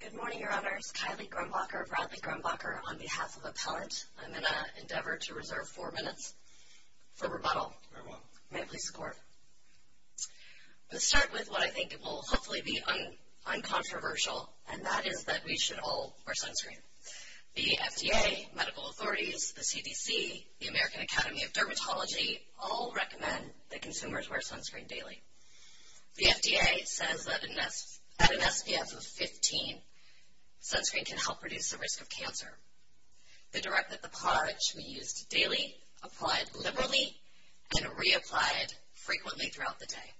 Good morning, Your Honors. Kylie Grumbacher of Bradley Grumbacher on behalf of Appellant. I'm going to endeavor to reserve four minutes for rebuttal. Very well. May it please the Court. Let's start with what I think will hopefully be uncontroversial, and that is that we should all wear sunscreen. The FDA, medical authorities, the CDC, the American Academy of Dermatology all recommend that consumers wear sunscreen daily. The FDA says that an SPF of 15 sunscreen can help reduce the risk of cancer. They direct that the product should be used daily, applied liberally, and reapplied frequently throughout the day.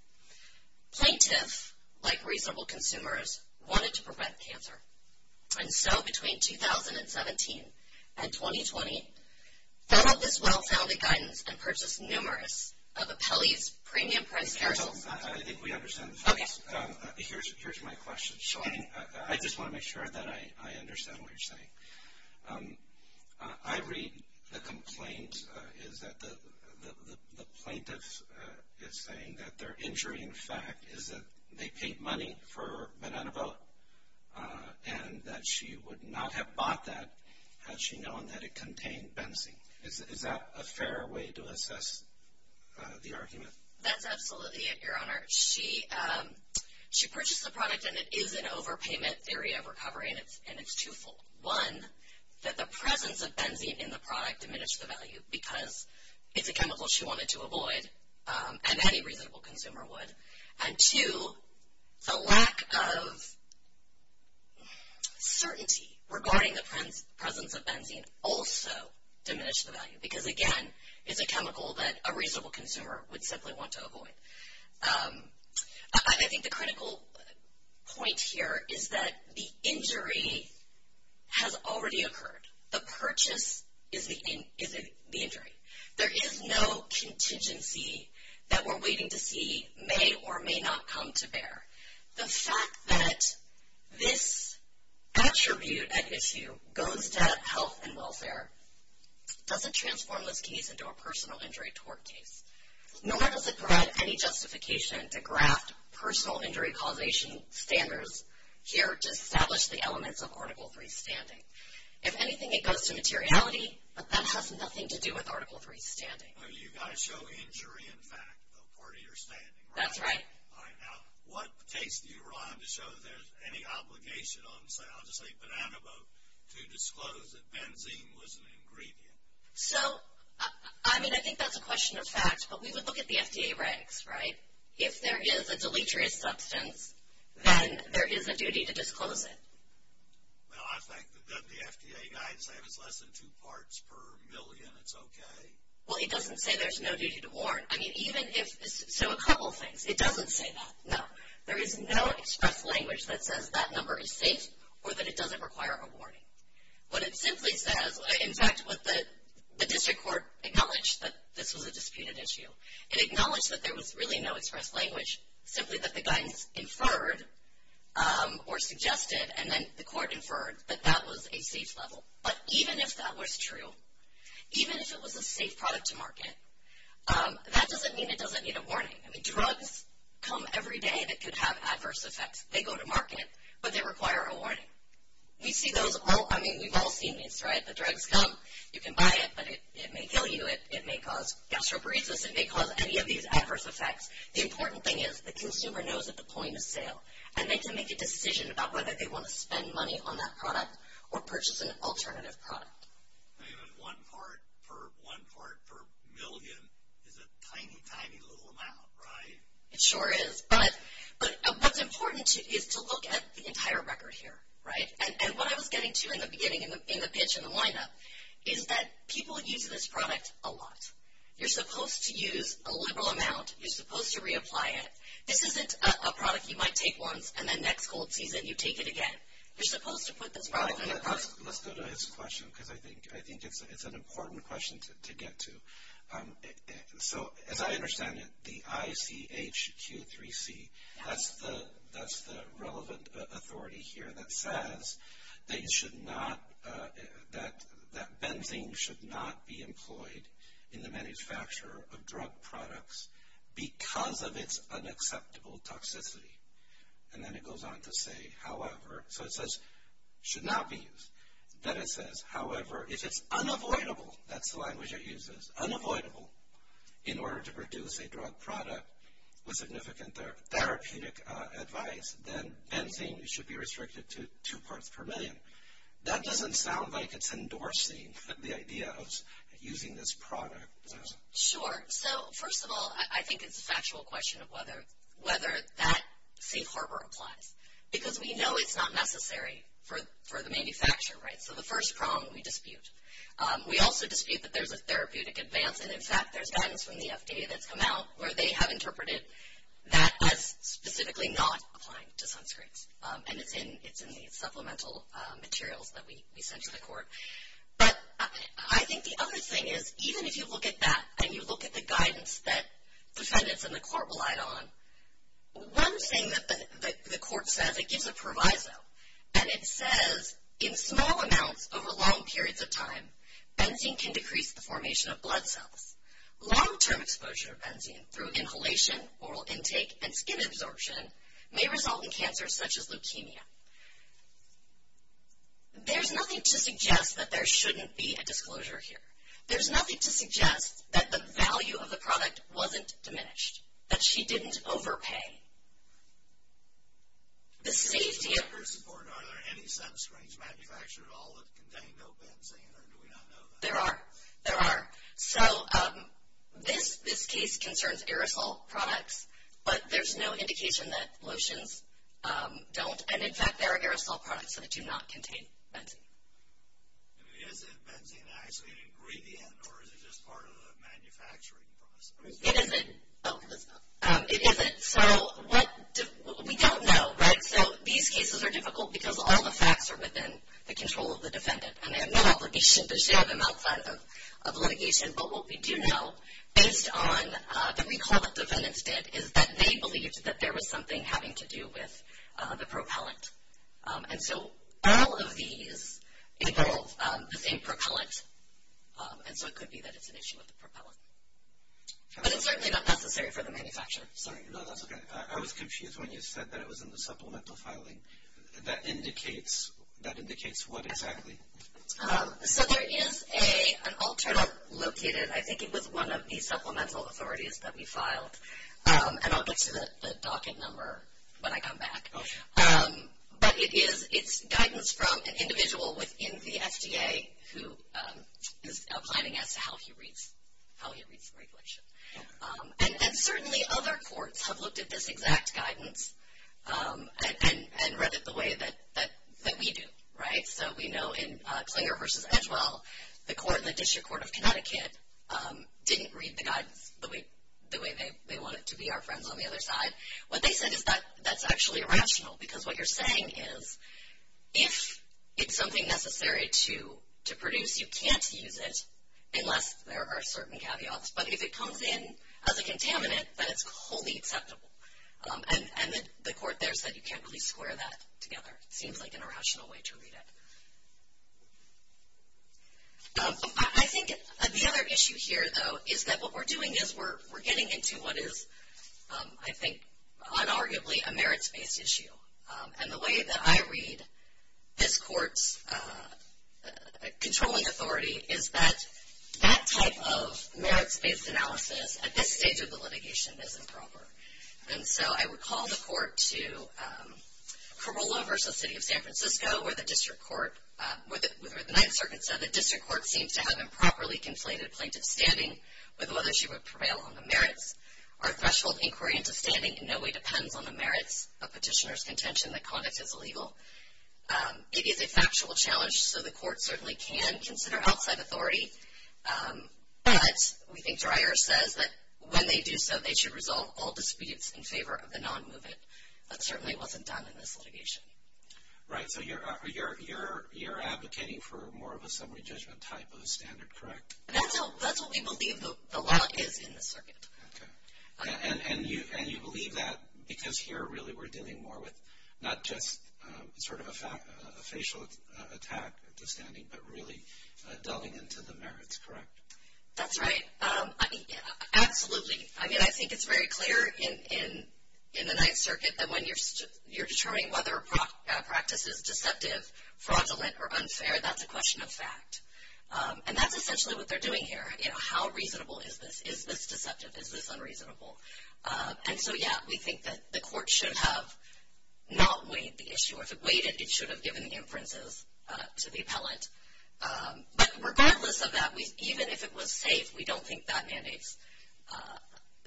Plaintiffs, like reasonable consumers, wanted to prevent cancer. And so, between 2017 and 2020, they got this well-founded guidance and purchased numerous of Apelli's premium-priced carousels. I think we understand the facts. Here's my question. I just want to make sure that I understand what you're saying. I read the complaint is that the plaintiff is saying that their injury, in fact, is that they paid money for Venenova, and that she would not have bought that had she known that it contained benzene. Is that a fair way to assess the argument? That's absolutely it, Your Honor. She purchased the product, and it is an overpayment area of recovery, and it's twofold. One, that the presence of benzene in the product diminished the value, because it's a chemical she wanted to avoid, and any reasonable consumer would. And two, the lack of certainty regarding the presence of benzene also diminished the value, because, again, it's a chemical that a reasonable consumer would simply want to avoid. I think the critical point here is that the injury has already occurred. The purchase is the injury. There is no contingency that we're waiting to see may or may not come to bear. The fact that this attribute at issue goes to health and welfare doesn't transform this case into a personal injury tort case, nor does it provide any justification to graft personal injury causation standards here to establish the elements of Article III standing. If anything, it goes to materiality, but that has nothing to do with Article III standing. You've got to show injury, in fact, though, part of your standing, right? That's right. All right. Now, what case do you rely on to show there's any obligation on, say, I'll just say Banana Boat, to disclose that benzene was an ingredient? So, I mean, I think that's a question of fact, but we would look at the FDA regs, right? If there is a deleterious substance, then there is a duty to disclose it. Well, I think that the FDA guides say if it's less than two parts per million, it's okay. Well, it doesn't say there's no duty to warn. I mean, even if, so a couple of things. It doesn't say that, no. There is no express language that says that number is safe or that it doesn't require a warning. What it simply says, in fact, the district court acknowledged that this was a disputed issue. It acknowledged that there was really no express language, simply that the guidance inferred or suggested and then the court inferred that that was a safe level. But even if that was true, even if it was a safe product to market, that doesn't mean it doesn't need a warning. I mean, drugs come every day that could have adverse effects. They go to market, but they require a warning. We see those all, I mean, we've all seen these, right? The drugs come. You can buy it, but it may kill you. It may cause gastroparesis. It may cause any of these adverse effects. The important thing is the consumer knows at the point of sale, and they can make a decision about whether they want to spend money on that product or purchase an alternative product. One part per million is a tiny, tiny little amount, right? It sure is. But what's important is to look at the entire record here, right? And what I was getting to in the beginning, in the pitch and the lineup, is that people use this product a lot. You're supposed to use a liberal amount. You're supposed to reapply it. This isn't a product you might take once, and then next cold season you take it again. You're supposed to put this product in the cart. Let's go to his question because I think it's an important question to get to. So, as I understand it, the ICHQ3C, that's the relevant authority here that says that benzene should not be employed in the manufacture of drug products because of its unacceptable toxicity. And then it goes on to say, however, so it says should not be used. Then it says, however, if it's unavoidable, that's the language it uses, unavoidable in order to produce a drug product with significant therapeutic advice, then benzene should be restricted to two parts per million. That doesn't sound like it's endorsing the idea of using this product. Sure. So, first of all, I think it's a factual question of whether that safe harbor applies because we know it's not necessary for the manufacturer, right? So the first problem we dispute. We also dispute that there's a therapeutic advance. And, in fact, there's guidance from the FDA that's come out where they have interpreted that as specifically not applying to sunscreens. And it's in the supplemental materials that we sent to the court. But I think the other thing is even if you look at that and you look at the guidance that defendants and the court relied on, one thing that the court says, it gives a proviso, and it says, in small amounts over long periods of time, benzene can decrease the formation of blood cells. Long-term exposure of benzene through inhalation, oral intake, and skin absorption may result in cancer such as leukemia. There's nothing to suggest that there shouldn't be a disclosure here. There's nothing to suggest that the value of the product wasn't diminished, that she didn't overpay. The safety of... Are there any sunscreens manufactured at all that contain no benzene, or do we not know that? There are. There are. So this case concerns aerosol products, but there's no indication that lotions don't. And, in fact, there are aerosol products that do not contain benzene. Is it benzene actually an ingredient, or is it just part of the manufacturing process? It isn't. It isn't. We don't know, right? So these cases are difficult because all the facts are within the control of the defendant, and they have no obligation to share them outside of litigation. But what we do know, based on the recall that defendants did, is that they believed that there was something having to do with the propellant. And so all of these involve the same propellant, and so it could be that it's an issue with the propellant. But it's certainly not necessary for the manufacturer. Sorry, no, that's okay. I was confused when you said that it was in the supplemental filing. That indicates what exactly? So there is an alternative located, I think it was one of the supplemental authorities that we filed, and I'll get to the docket number when I come back. But it's guidance from an individual within the FDA who is planning as to how he reads the regulation. And certainly other courts have looked at this exact guidance and read it the way that we do, right? So we know in Clayer v. Edgewell, the court in the District Court of Connecticut didn't read the guidance the way they wanted to be our friends on the other side. What they said is that that's actually irrational, because what you're saying is, if it's something necessary to produce, you can't use it unless there are certain caveats. But if it comes in as a contaminant, then it's wholly acceptable. And the court there said you can't really square that together. It seems like an irrational way to read it. I think the other issue here, though, is that what we're doing is we're getting into what is, I think, unarguably a merits-based issue. And the way that I read this court's controlling authority is that that type of merits-based analysis at this stage of the litigation is improper. And so I would call the court to Carolla v. City of San Francisco, where the district court, where the Ninth Circuit said the district court seems to have improperly conflated plaintiff's standing with whether she would prevail on the merits. Our threshold inquiry into standing in no way depends on the merits of petitioner's contention that conduct is illegal. It is a factual challenge, so the court certainly can consider outside authority. But we think Dreyer says that when they do so, they should resolve all disputes in favor of the non-movement. That certainly wasn't done in this litigation. Right. So you're advocating for more of a summary judgment type of standard, correct? That's what we believe the law is in this circuit. Okay. And you believe that because here really we're dealing more with not just sort of a facial attack at the standing, but really delving into the merits, correct? That's right. Absolutely. I mean, I think it's very clear in the Ninth Circuit that when you're determining whether a practice is deceptive, fraudulent, or unfair, that's a question of fact. And that's essentially what they're doing here. How reasonable is this? Is this deceptive? Is this unreasonable? And so, yeah, we think that the court should have not weighed the issue. If it weighted, it should have given the inferences to the appellant. But regardless of that, even if it was safe, we don't think that mandates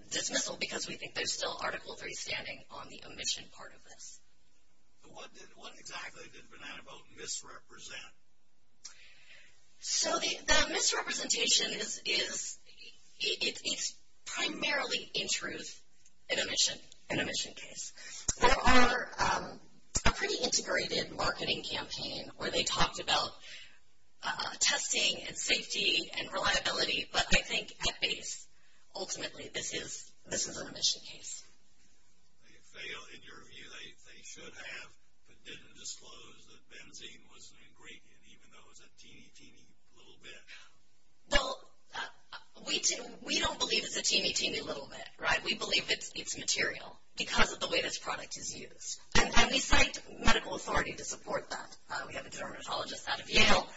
dismissal because we think there's still Article III standing on the omission part of this. What exactly did Banana Boat misrepresent? So the misrepresentation is primarily, in truth, an omission case. There are a pretty integrated marketing campaign where they talked about testing and safety and reliability, but I think at base, ultimately, this is an omission case. They failed in your view. They should have, but didn't disclose that benzene was an ingredient, even though it was a teeny, teeny little bit. Well, we don't believe it's a teeny, teeny little bit, right? We believe it's material because of the way this product is used. And we cite medical authority to support that. We have a dermatologist out of Yale.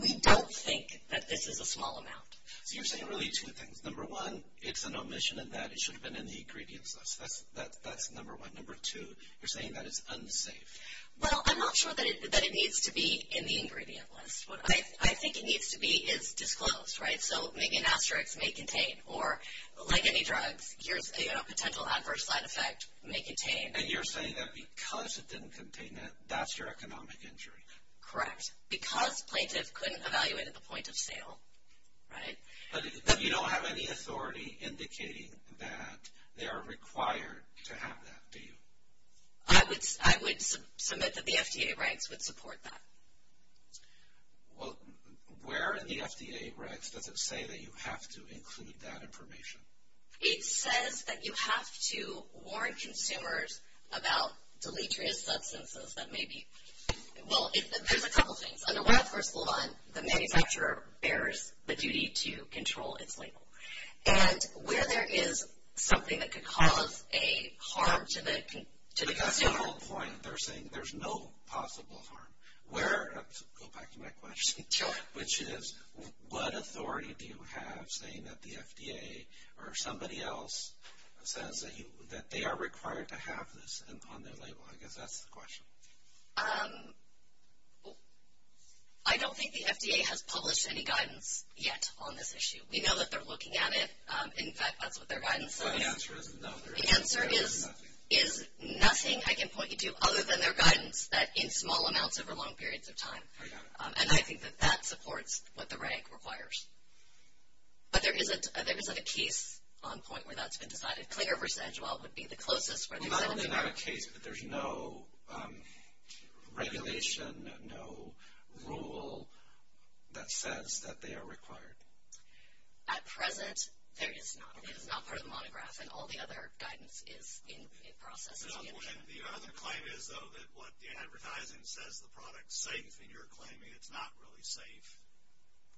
We don't think that this is a small amount. So you're saying really two things. Number one, it's an omission and that it should have been in the ingredients list. That's number one. Number two, you're saying that it's unsafe. Well, I'm not sure that it needs to be in the ingredient list. What I think it needs to be is disclosed, right? So maybe an asterisk, may contain, or like any drugs, here's a potential adverse side effect, may contain. And you're saying that because it didn't contain it, that's your economic injury. Correct. Because plaintiff couldn't evaluate at the point of sale, right? But you don't have any authority indicating that they are required to have that, do you? I would submit that the FDA regs would support that. Well, where in the FDA regs does it say that you have to include that information? It says that you have to warn consumers about deleterious substances that may be... Well, there's a couple things. Under Wild Horse LaVon, the manufacturer bears the duty to control its label. And where there is something that could cause a harm to the consumer... That's the whole point. They're saying there's no possible harm. Go back to my question. Sure. Which is, what authority do you have saying that the FDA, or somebody else, says that they are required to have this on their label? I guess that's the question. I don't think the FDA has published any guidance yet on this issue. We know that they're looking at it. In fact, that's what their guidance says. The answer is no. The answer is nothing. I can point you to other than their guidance that in small amounts over long periods of time. I got it. And I think that that supports what the reg requires. But there isn't a case on point where that's been decided. Clinger v. Agiwell would be the closest... Well, not only not a case, but there's no regulation, no rule that says that they are required. At present, there is not. It is not part of the monograph. And all the other guidance is in process. The other claim is, though, that what the advertising says the product is safe, and you're claiming it's not really safe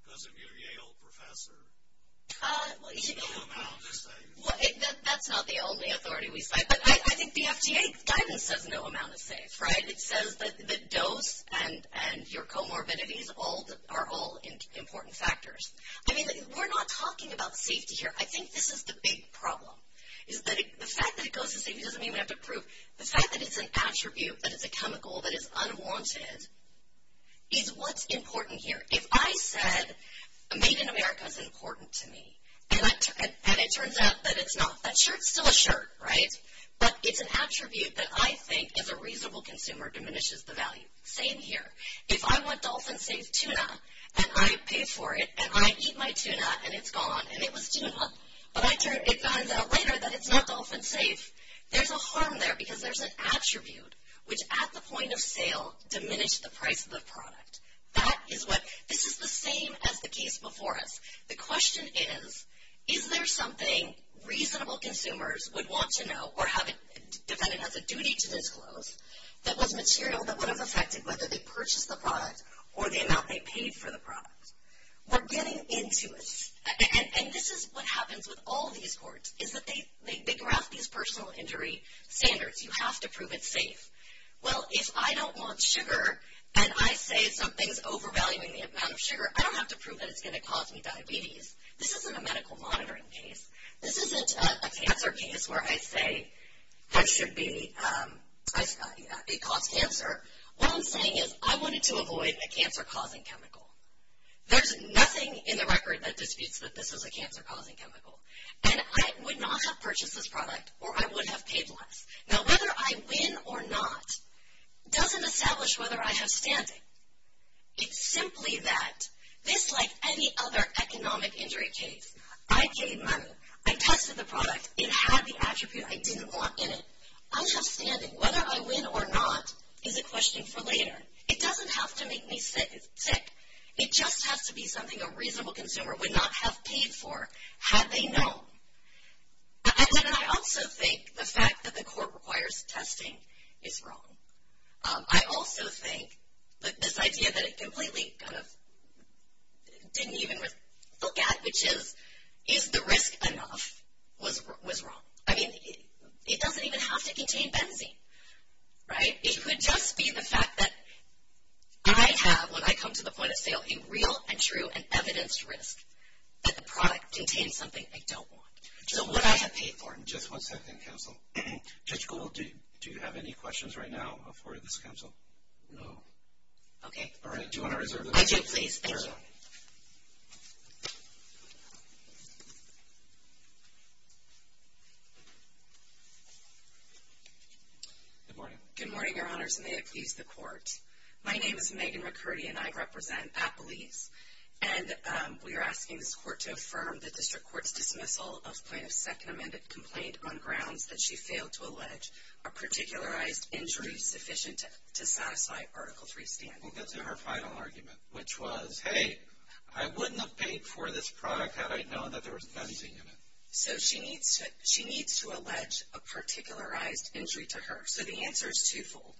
because of your Yale professor. No amount is safe. That's not the only authority we cite. But I think the FDA guidance says no amount is safe, right? It says that the dose and your comorbidities are all important factors. I mean, we're not talking about safety here. I think this is the big problem, is that the fact that it goes to safety doesn't mean we have to prove... The fact that it's an attribute, that it's a chemical, that it's unwanted, is what's important here. If I said made in America is important to me, and it turns out that it's not... That shirt's still a shirt, right? But it's an attribute that I think, as a reasonable consumer, diminishes the value. Same here. If I want Dolphin Safe tuna, and I pay for it, and I eat my tuna, and it's gone, and it was tuna, but it turns out later that it's not Dolphin Safe, there's a harm there, because there's an attribute which, at the point of sale, diminished the price of the product. This is the same as the case before us. The question is, is there something reasonable consumers would want to know, or have it defended as a duty to disclose, that was material that would have affected whether they purchased the product or the amount they paid for the product? We're getting into this. And this is what happens with all these courts, is that they draft these personal injury standards. You have to prove it's safe. Well, if I don't want sugar, and I say something's overvaluing the amount of sugar, I don't have to prove that it's going to cause me diabetes. This isn't a medical monitoring case. This isn't a cancer case where I say that it caused cancer. What I'm saying is, I wanted to avoid a cancer-causing chemical. There's nothing in the record that disputes that this is a cancer-causing chemical. And I would not have purchased this product, or I would have paid less. Now, whether I win or not doesn't establish whether I have standing. It's simply that this, like any other economic injury case, I paid money. I tested the product. It had the attribute I didn't want in it. I have standing. Whether I win or not is a question for later. It doesn't have to make me sick. It just has to be something a reasonable consumer would not have paid for had they known. And I also think the fact that the court requires testing is wrong. I also think that this idea that it completely kind of didn't even look at, which is, is the risk enough, was wrong. I mean, it doesn't even have to contain benzene, right? It could just be the fact that I have, when I come to the point of sale, a real and true and evidenced risk that the product contains something I don't want. So what I have paid for. Just one second, counsel. Judge Gould, do you have any questions right now before this counsel? No. Okay. All right. Do you want to reserve the floor? I do, please. Thank you. Counsel. Good morning. Good morning, Your Honors, and may it please the court. My name is Megan McCurdy, and I represent Appalese. And we are asking this court to affirm the district court's dismissal of plaintiff's second amended complaint on grounds that she failed to allege a particularized injury sufficient to satisfy Article III standards. We'll get to her final argument, which was, hey, I wouldn't have paid for this product had I known that there was benzene in it. So she needs to allege a particularized injury to her. So the answer is twofold.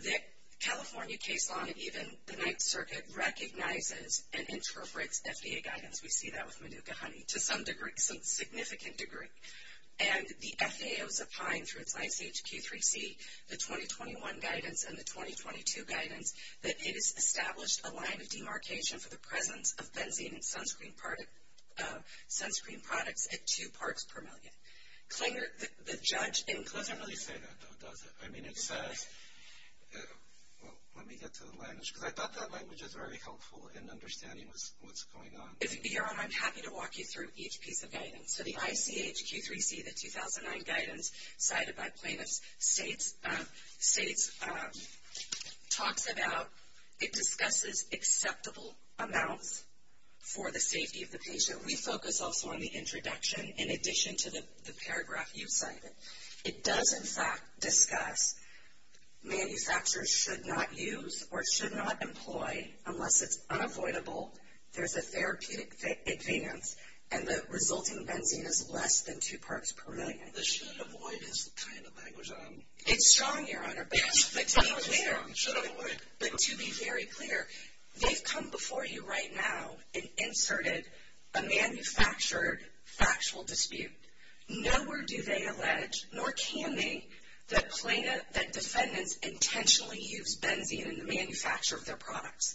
The California case law and even the Ninth Circuit recognizes and interprets FDA guidance. We see that with Manuka honey to some degree, some significant degree. And the FAA was opined through its ICHQ 3C, the 2021 guidance and the 2022 guidance, that it has established a line of demarcation for the presence of benzene in sunscreen products at two parts per million. The judge included. It doesn't really say that, though, does it? I mean, it says – well, let me get to the language, because I thought that language was very helpful in understanding what's going on. Your Honor, I'm happy to walk you through each piece of guidance. So the ICHQ 3C, the 2009 guidance cited by plaintiffs, states – talks about – it discusses acceptable amounts for the safety of the patient. We focus also on the introduction in addition to the paragraph you cited. It does, in fact, discuss manufacturers should not use or should not employ unless it's unavoidable. There's a therapeutic advance, and the resulting benzene is less than two parts per million. The should avoid is the kind of language I'm – It's strong, Your Honor, but to be clear – Should avoid. But to be very clear, they've come before you right now and inserted a manufactured factual dispute. Nowhere do they allege, nor can they, that plaintiffs – that defendants intentionally use benzene in the manufacture of their products.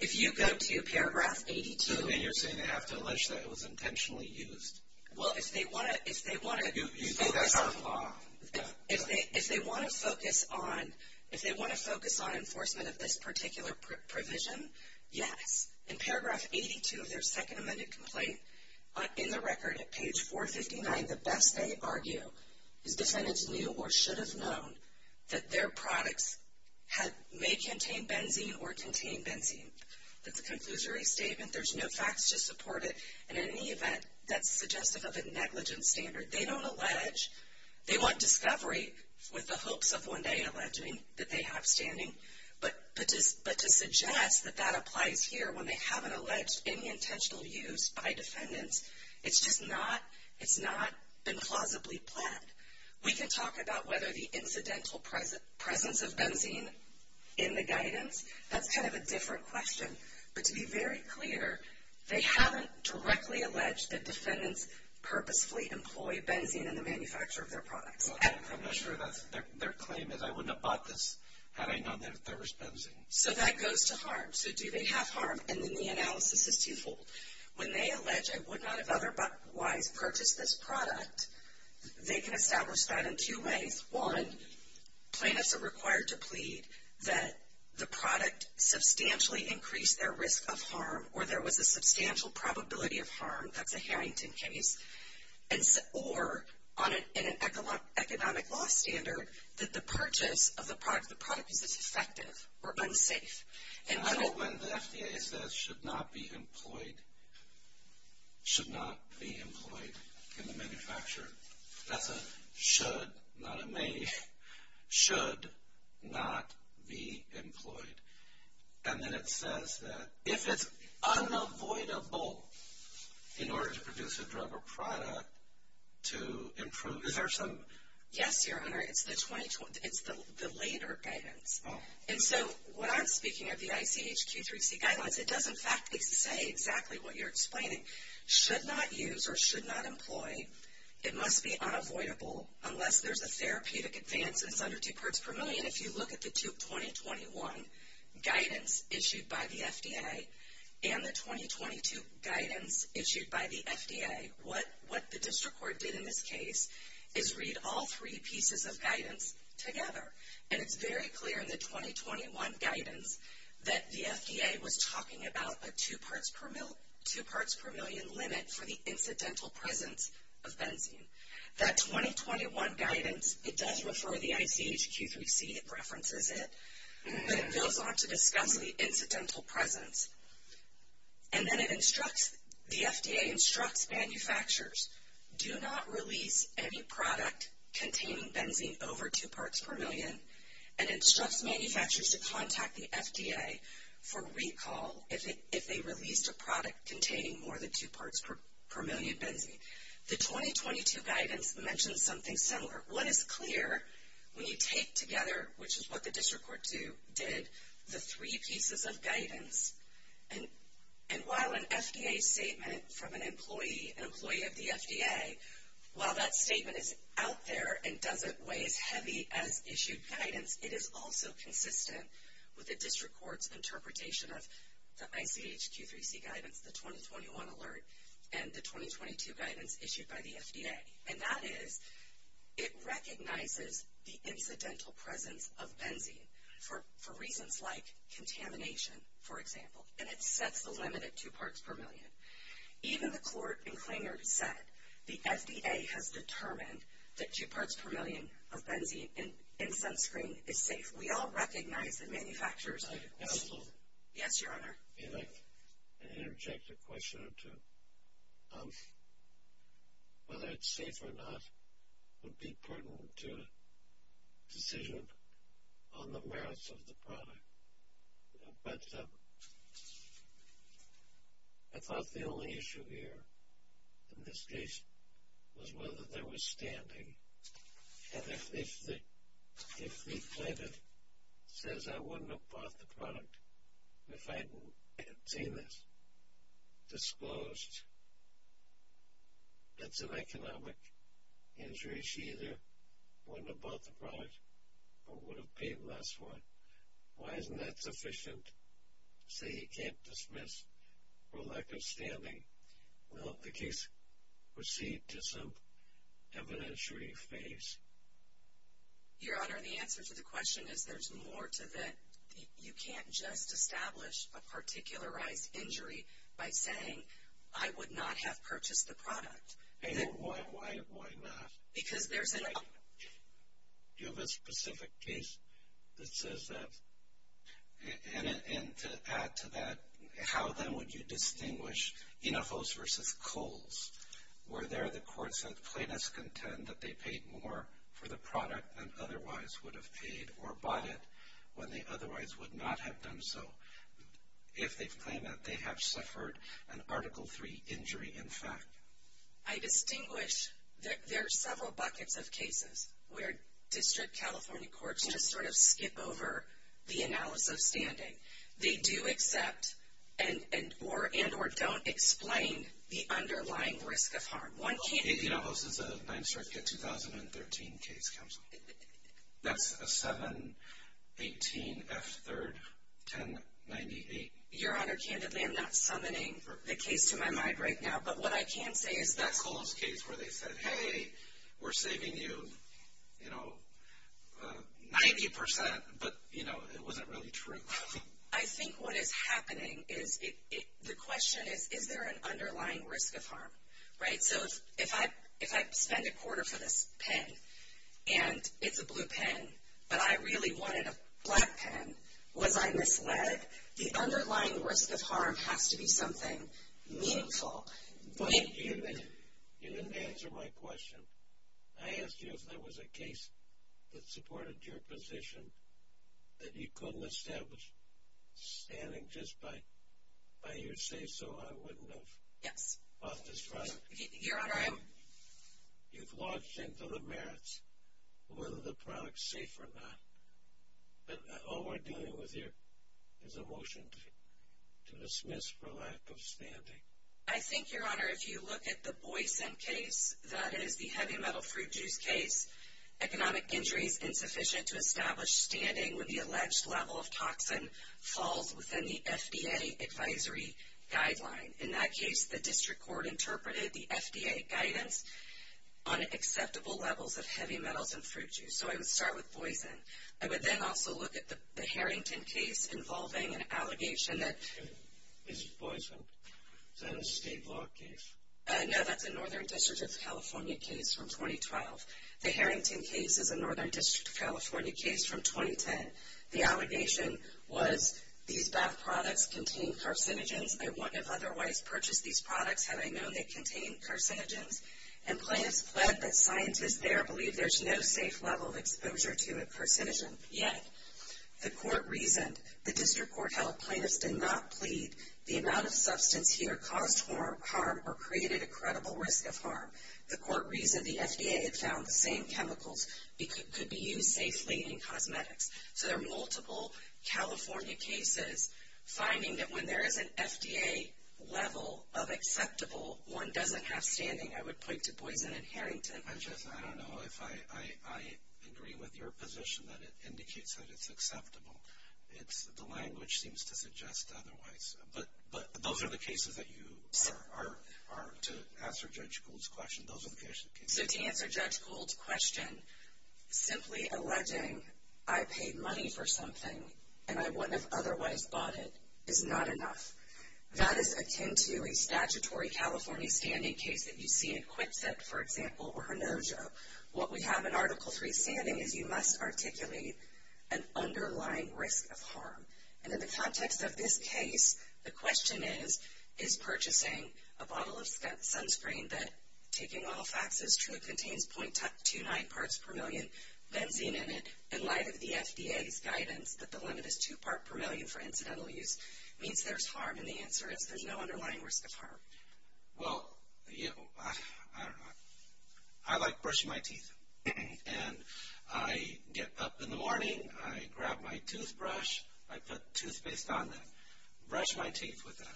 If you go to paragraph 82 – You mean you're saying they have to allege that it was intentionally used? Well, if they want to – You think that's our flaw? If they want to focus on – if they want to focus on enforcement of this particular provision, yes. In paragraph 82 of their second amended complaint, in the record at page 459, the best they argue is defendants knew or should have known that their products may contain benzene or contain benzene. That's a conclusory statement. There's no facts to support it, and in any event, that's suggestive of a negligent standard. They don't allege. They want discovery with the hopes of one day alleging that they have standing. But to suggest that that applies here when they haven't alleged any intentional use by defendants, it's just not – it's not been plausibly planned. We can talk about whether the incidental presence of benzene in the guidance. That's kind of a different question. But to be very clear, they haven't directly alleged that defendants purposefully employ benzene in the manufacture of their products. I'm not sure their claim is, I wouldn't have bought this had I known that there was benzene. So that goes to harm. So do they have harm? And then the analysis is twofold. When they allege, I would not have otherwise purchased this product, they can establish that in two ways. One, plaintiffs are required to plead that the product substantially increased their risk of harm or there was a substantial probability of harm. That's a Harrington case. Or in an economic law standard, that the purchase of the product is as effective or unsafe. I don't when the FDA says should not be employed, should not be employed in the manufacture. That's a should, not a may. Should not be employed. And then it says that if it's unavoidable in order to produce a drug or product to improve. Is there some? Yes, Your Honor. It's the later guidance. And so when I'm speaking of the ICH Q3C guidelines, it does in fact say exactly what you're explaining. Should not use or should not employ. It must be unavoidable unless there's a therapeutic advance and it's under two parts per million. If you look at the 2021 guidance issued by the FDA and the 2022 guidance issued by the FDA, what the district court did in this case is read all three pieces of guidance together. And it's very clear in the 2021 guidance that the FDA was talking about a two parts per million limit for the incidental presence of benzene. That 2021 guidance, it does refer to the ICH Q3C. It references it. But it goes on to discuss the incidental presence. And then it instructs, the FDA instructs manufacturers, do not release any product containing benzene over two parts per million. And instructs manufacturers to contact the FDA for recall if they released a product containing more than two parts per million benzene. The 2022 guidance mentions something similar. What is clear when you take together, which is what the district court did, the three pieces of guidance. And while an FDA statement from an employee, an employee of the FDA, while that statement is out there and doesn't weigh as heavy as issued guidance, it is also consistent with the district court's interpretation of the ICH Q3C guidance, the 2021 alert, and the 2022 guidance issued by the FDA. And that is, it recognizes the incidental presence of benzene for reasons like contamination, for example. And it sets the limit at two parts per million. Even the court in Klinger said the FDA has determined that two parts per million of benzene in sunscreen is safe. We all recognize that manufacturers. Yes, Your Honor. I'd like to interject a question or two. Whether it's safe or not would be pertinent to a decision on the merits of the product. But I thought the only issue here in this case was whether there was standing. And if the plaintiff says, I wouldn't have bought the product if I had seen this disclosed, that's an economic injury. She either wouldn't have bought the product or would have paid less for it. Say he can't dismiss for lack of standing. Will the case proceed to some evidentiary phase? Your Honor, the answer to the question is there's more to that. You can't just establish a particularized injury by saying, I would not have purchased the product. Why not? Do you have a specific case that says that? And to add to that, how then would you distinguish Enojos versus Kohls? Were there the courts that plaintiffs contend that they paid more for the product than otherwise would have paid or bought it when they otherwise would not have done so? If they claim that they have suffered an Article III injury, in fact. I distinguish. There are several buckets of cases where District California Courts just sort of skip over the analysis of standing. They do accept and or don't explain the underlying risk of harm. Enojos is a 9th Circuit 2013 case, Counsel. That's a 718F31098. Your Honor, candidly, I'm not summoning the case to my mind right now. But what I can say is that Kohls case where they said, hey, we're saving you 90%, but it wasn't really true. I think what is happening is the question is, is there an underlying risk of harm? So if I spend a quarter for this pen and it's a blue pen, but I really wanted a black pen, was I misled? But the underlying risk of harm has to be something meaningful. But you didn't answer my question. I asked you if there was a case that supported your position that you couldn't establish standing just by your say-so. I wouldn't have. Yes. Off the strike. Your Honor, I am. You've lodged into the merits whether the product's safe or not. But all we're doing with you is a motion to dismiss for lack of standing. I think, Your Honor, if you look at the Boyson case, that is the heavy metal fruit juice case, economic injuries insufficient to establish standing with the alleged level of toxin falls within the FDA advisory guideline. In that case, the district court interpreted the FDA guidance on acceptable levels of heavy metals in fruit juice. So I would start with Boyson. I would then also look at the Harrington case involving an allegation that. Is it Boyson? Is that a state law case? No, that's a Northern District of California case from 2012. The Harrington case is a Northern District of California case from 2010. The allegation was these bath products contain carcinogens. I wouldn't have otherwise purchased these products had I known they contained carcinogens. And plaintiffs pled that scientists there believe there's no safe level of exposure to a carcinogen yet. The court reasoned the district court held plaintiffs did not plead the amount of substance here caused harm or created a credible risk of harm. The court reasoned the FDA had found the same chemicals could be used safely in cosmetics. So there are multiple California cases finding that when there is an FDA level of acceptable, one doesn't have standing, I would point to Boyson and Harrington. Francesca, I don't know if I agree with your position that it indicates that it's acceptable. The language seems to suggest otherwise. But those are the cases that you are to answer Judge Gould's question. Those are the cases. So to answer Judge Gould's question, simply alleging I paid money for something and I wouldn't have otherwise bought it is not enough. That is akin to a statutory California standing case that you see in Quitset, for example, or Hinojo. What we have in Article III standing is you must articulate an underlying risk of harm. And in the context of this case, the question is, is purchasing a bottle of sunscreen that, taking all facts as true, contains .29 parts per million benzene in it in light of the FDA's guidance that the limit is two part per million for incidental use, means there's harm? And the answer is there's no underlying risk of harm. Well, you know, I don't know. I like brushing my teeth. And I get up in the morning, I grab my toothbrush, I put toothpaste on it, brush my teeth with it.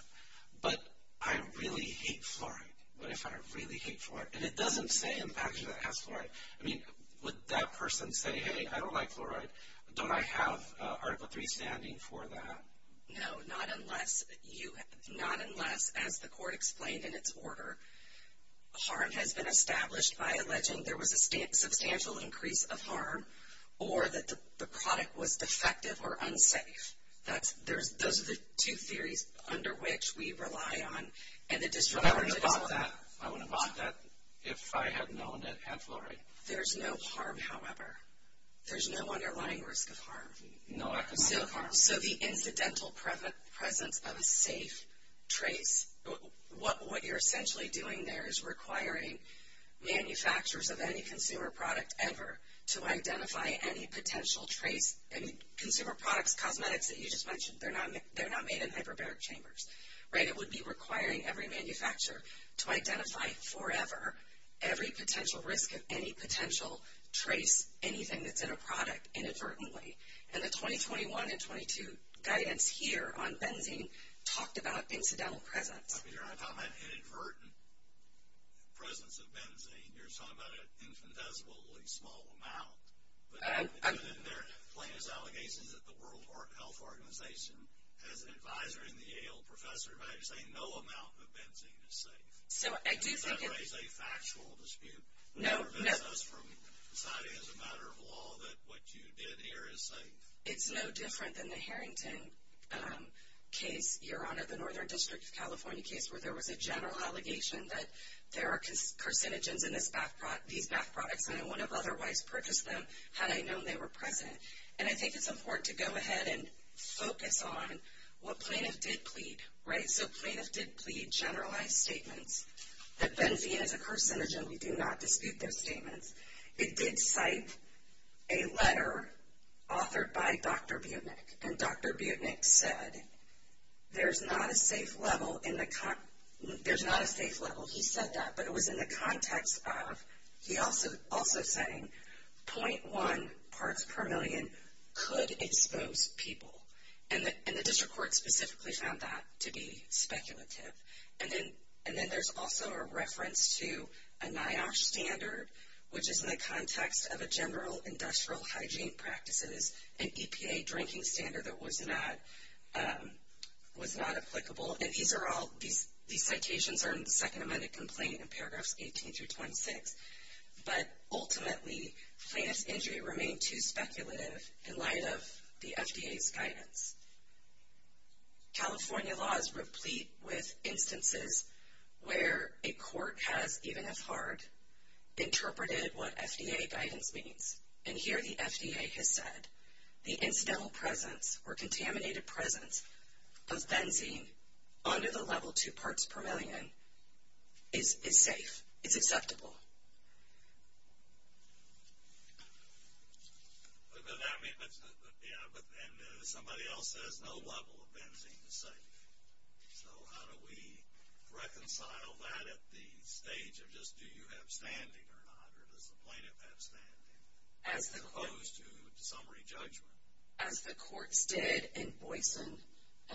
But I really hate fluoride. What if I really hate fluoride? And it doesn't say in the package that it has fluoride. I mean, would that person say, hey, I don't like fluoride, but don't I have Article III standing for that? No, not unless, as the court explained in its order, harm has been established by alleging there was a substantial increase of harm or that the product was defective or unsafe. Those are the two theories under which we rely on. But I wouldn't have bought that if I had known it had fluoride. There's no harm, however. There's no underlying risk of harm. So the incidental presence of a safe trace, what you're essentially doing there is requiring manufacturers of any consumer product ever to identify any potential trace. Consumer products, cosmetics that you just mentioned, they're not made in hyperbaric chambers. It would be requiring every manufacturer to identify forever every potential risk of any potential trace, anything that's in a product, inadvertently. And the 2021 and 2022 guidance here on benzene talked about incidental presence. I mean, you're not talking about inadvertent presence of benzene. You're talking about an infinitesimally small amount. But they're plain as allegations at the World Health Organization. As an advisor in the Yale professor, you're saying no amount of benzene is safe. That is a factual dispute. That prevents us from deciding as a matter of law that what you did here is safe. It's no different than the Harrington case, Your Honor, the Northern District of California case, where there was a general allegation that there are carcinogens in these bath products and I wouldn't have otherwise purchased them had I known they were present. And I think it's important to go ahead and focus on what plaintiff did plead. Right? So plaintiff did plead generalized statements that benzene is a carcinogen. We do not dispute those statements. It did cite a letter authored by Dr. Butnik. And Dr. Butnik said, there's not a safe level. There's not a safe level. He said that. But it was in the context of he also saying .1 parts per million could expose people. And the district court specifically found that to be speculative. And then there's also a reference to a NIOSH standard, which is in the context of a general industrial hygiene practices, an EPA drinking standard that was not applicable. And these citations are in the second amended complaint in paragraphs 18 through 26. But ultimately, plaintiff's injury remained too speculative in light of the FDA's guidance. California law is replete with instances where a court has, even if hard, interpreted what FDA guidance means. And here the FDA has said the incidental presence or contaminated presence of benzene under the level 2 parts per million is safe. It's acceptable. But then somebody else says no level of benzene is safe. So how do we reconcile that at the stage of just do you have standing or not? Or does the plaintiff have standing? As opposed to summary judgment. As the courts did in Boyson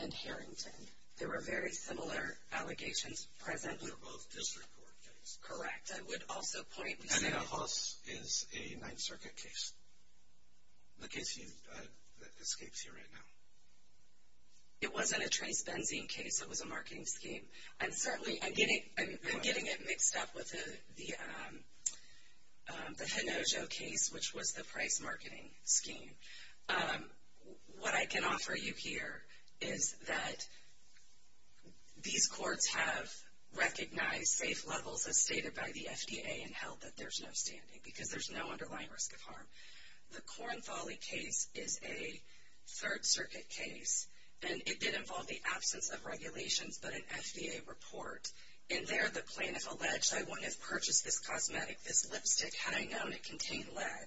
and Harrington. There were very similar allegations present. Those are both district court cases. Correct. I would also point out. And then a Hoss is a Ninth Circuit case. The case that escapes you right now. It wasn't a trace benzene case. It was a marketing scheme. And certainly I'm getting it mixed up with the Hinojo case, which was the price marketing scheme. What I can offer you here is that these courts have recognized safe levels as stated by the FDA and held that there's no standing. Because there's no underlying risk of harm. The Corinthale case is a Third Circuit case. And it did involve the absence of regulations, but an FDA report. And there the plaintiff alleged I wouldn't have purchased this cosmetic, this lipstick had I known it contained lead.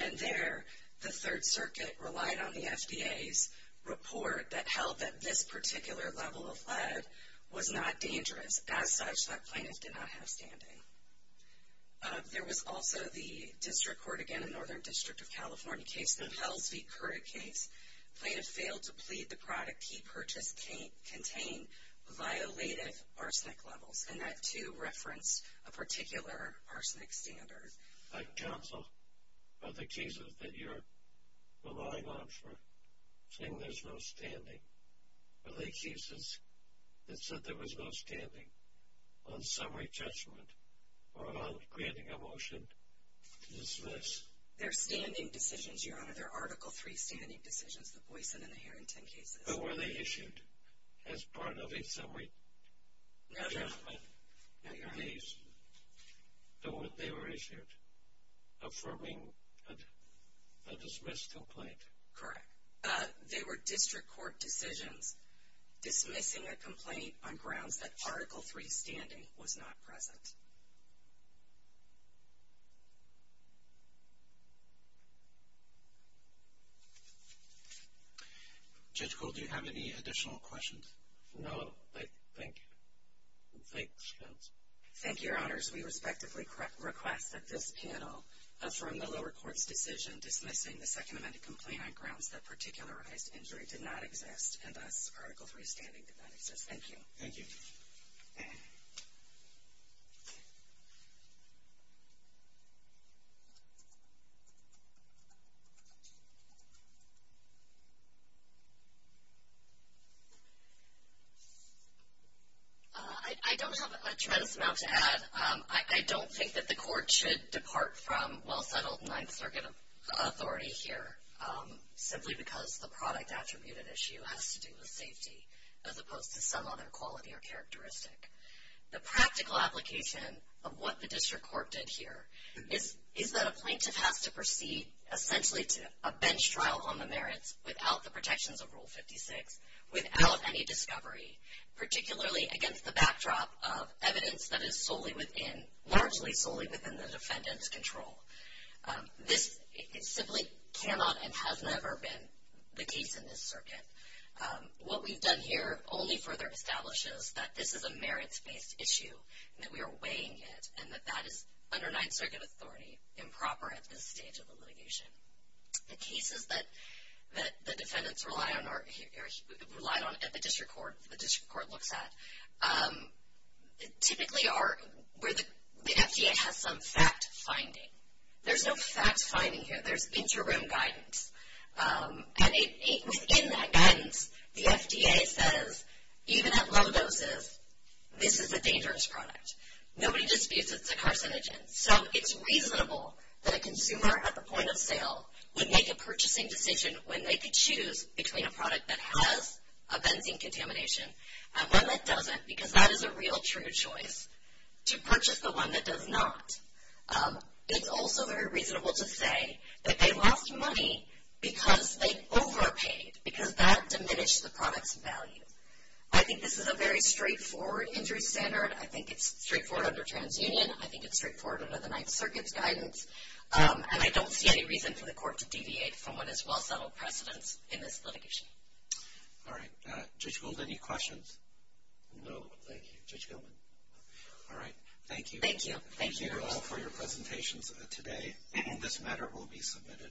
And there the Third Circuit relied on the FDA's report that held that this particular level of lead was not dangerous. As such, that plaintiff did not have standing. There was also the district court, again, a Northern District of California case. The Hells v. Curric case. Plaintiff failed to plead the product he purchased contained violated arsenic levels. And that, too, referenced a particular arsenic standard. My counsel, are the cases that you're relying on for saying there's no standing, are they cases that said there was no standing on summary judgment or on granting a motion to dismiss? They're standing decisions, Your Honor. They're Article III standing decisions, the Boyson and the Harrington cases. But were they issued as part of a summary judgment in your case? They were issued affirming a dismissed complaint. Correct. They were district court decisions dismissing a complaint on grounds that Article III standing was not present. Judge Cole, do you have any additional questions? No. Thank you. Thanks, counsel. Thank you, Your Honors. We respectively request that this panel affirm the lower court's decision dismissing the Second Amendment complaint on grounds that particularized injury did not exist and thus Article III standing did not exist. Thank you. Thank you. I don't have a tremendous amount to add. I don't think that the court should depart from well-settled Ninth Circuit authority here simply because the product-attributed issue has to do with safety as opposed to some other quality or characteristic. The practical application of what the district court did here is that a plaintiff has to proceed essentially to a bench trial on the merits without the protections of Rule 56, without any discovery, particularly against the backdrop of evidence that is largely solely within the defendant's control. This simply cannot and has never been the case in this circuit. What we've done here only further establishes that this is a merits-based issue and that we are weighing it and that that is under Ninth Circuit authority improper at this stage of the litigation. The cases that the defendants relied on at the district court, the district court looks at, typically are where the FDA has some fact-finding. There's no fact-finding here. There's interim guidance. And within that guidance, the FDA says, even at low doses, this is a dangerous product. Nobody disputes it's a carcinogen. So it's reasonable that a consumer at the point of sale would make a purchasing decision when they could choose between a product that has a benzene contamination and one that doesn't because that is a real true choice to purchase the one that does not. It's also very reasonable to say that they lost money because they overpaid, because that diminished the product's value. I think this is a very straightforward injury standard. I think it's straightforward under TransUnion. I think it's straightforward under the Ninth Circuit's guidance. And I don't see any reason for the court to deviate from what is well-settled precedence in this litigation. All right. Judge Gould, any questions? No. Thank you. Judge Gilman? All right. Thank you. Thank you. Thank you all for your presentations today. This matter will be submitted.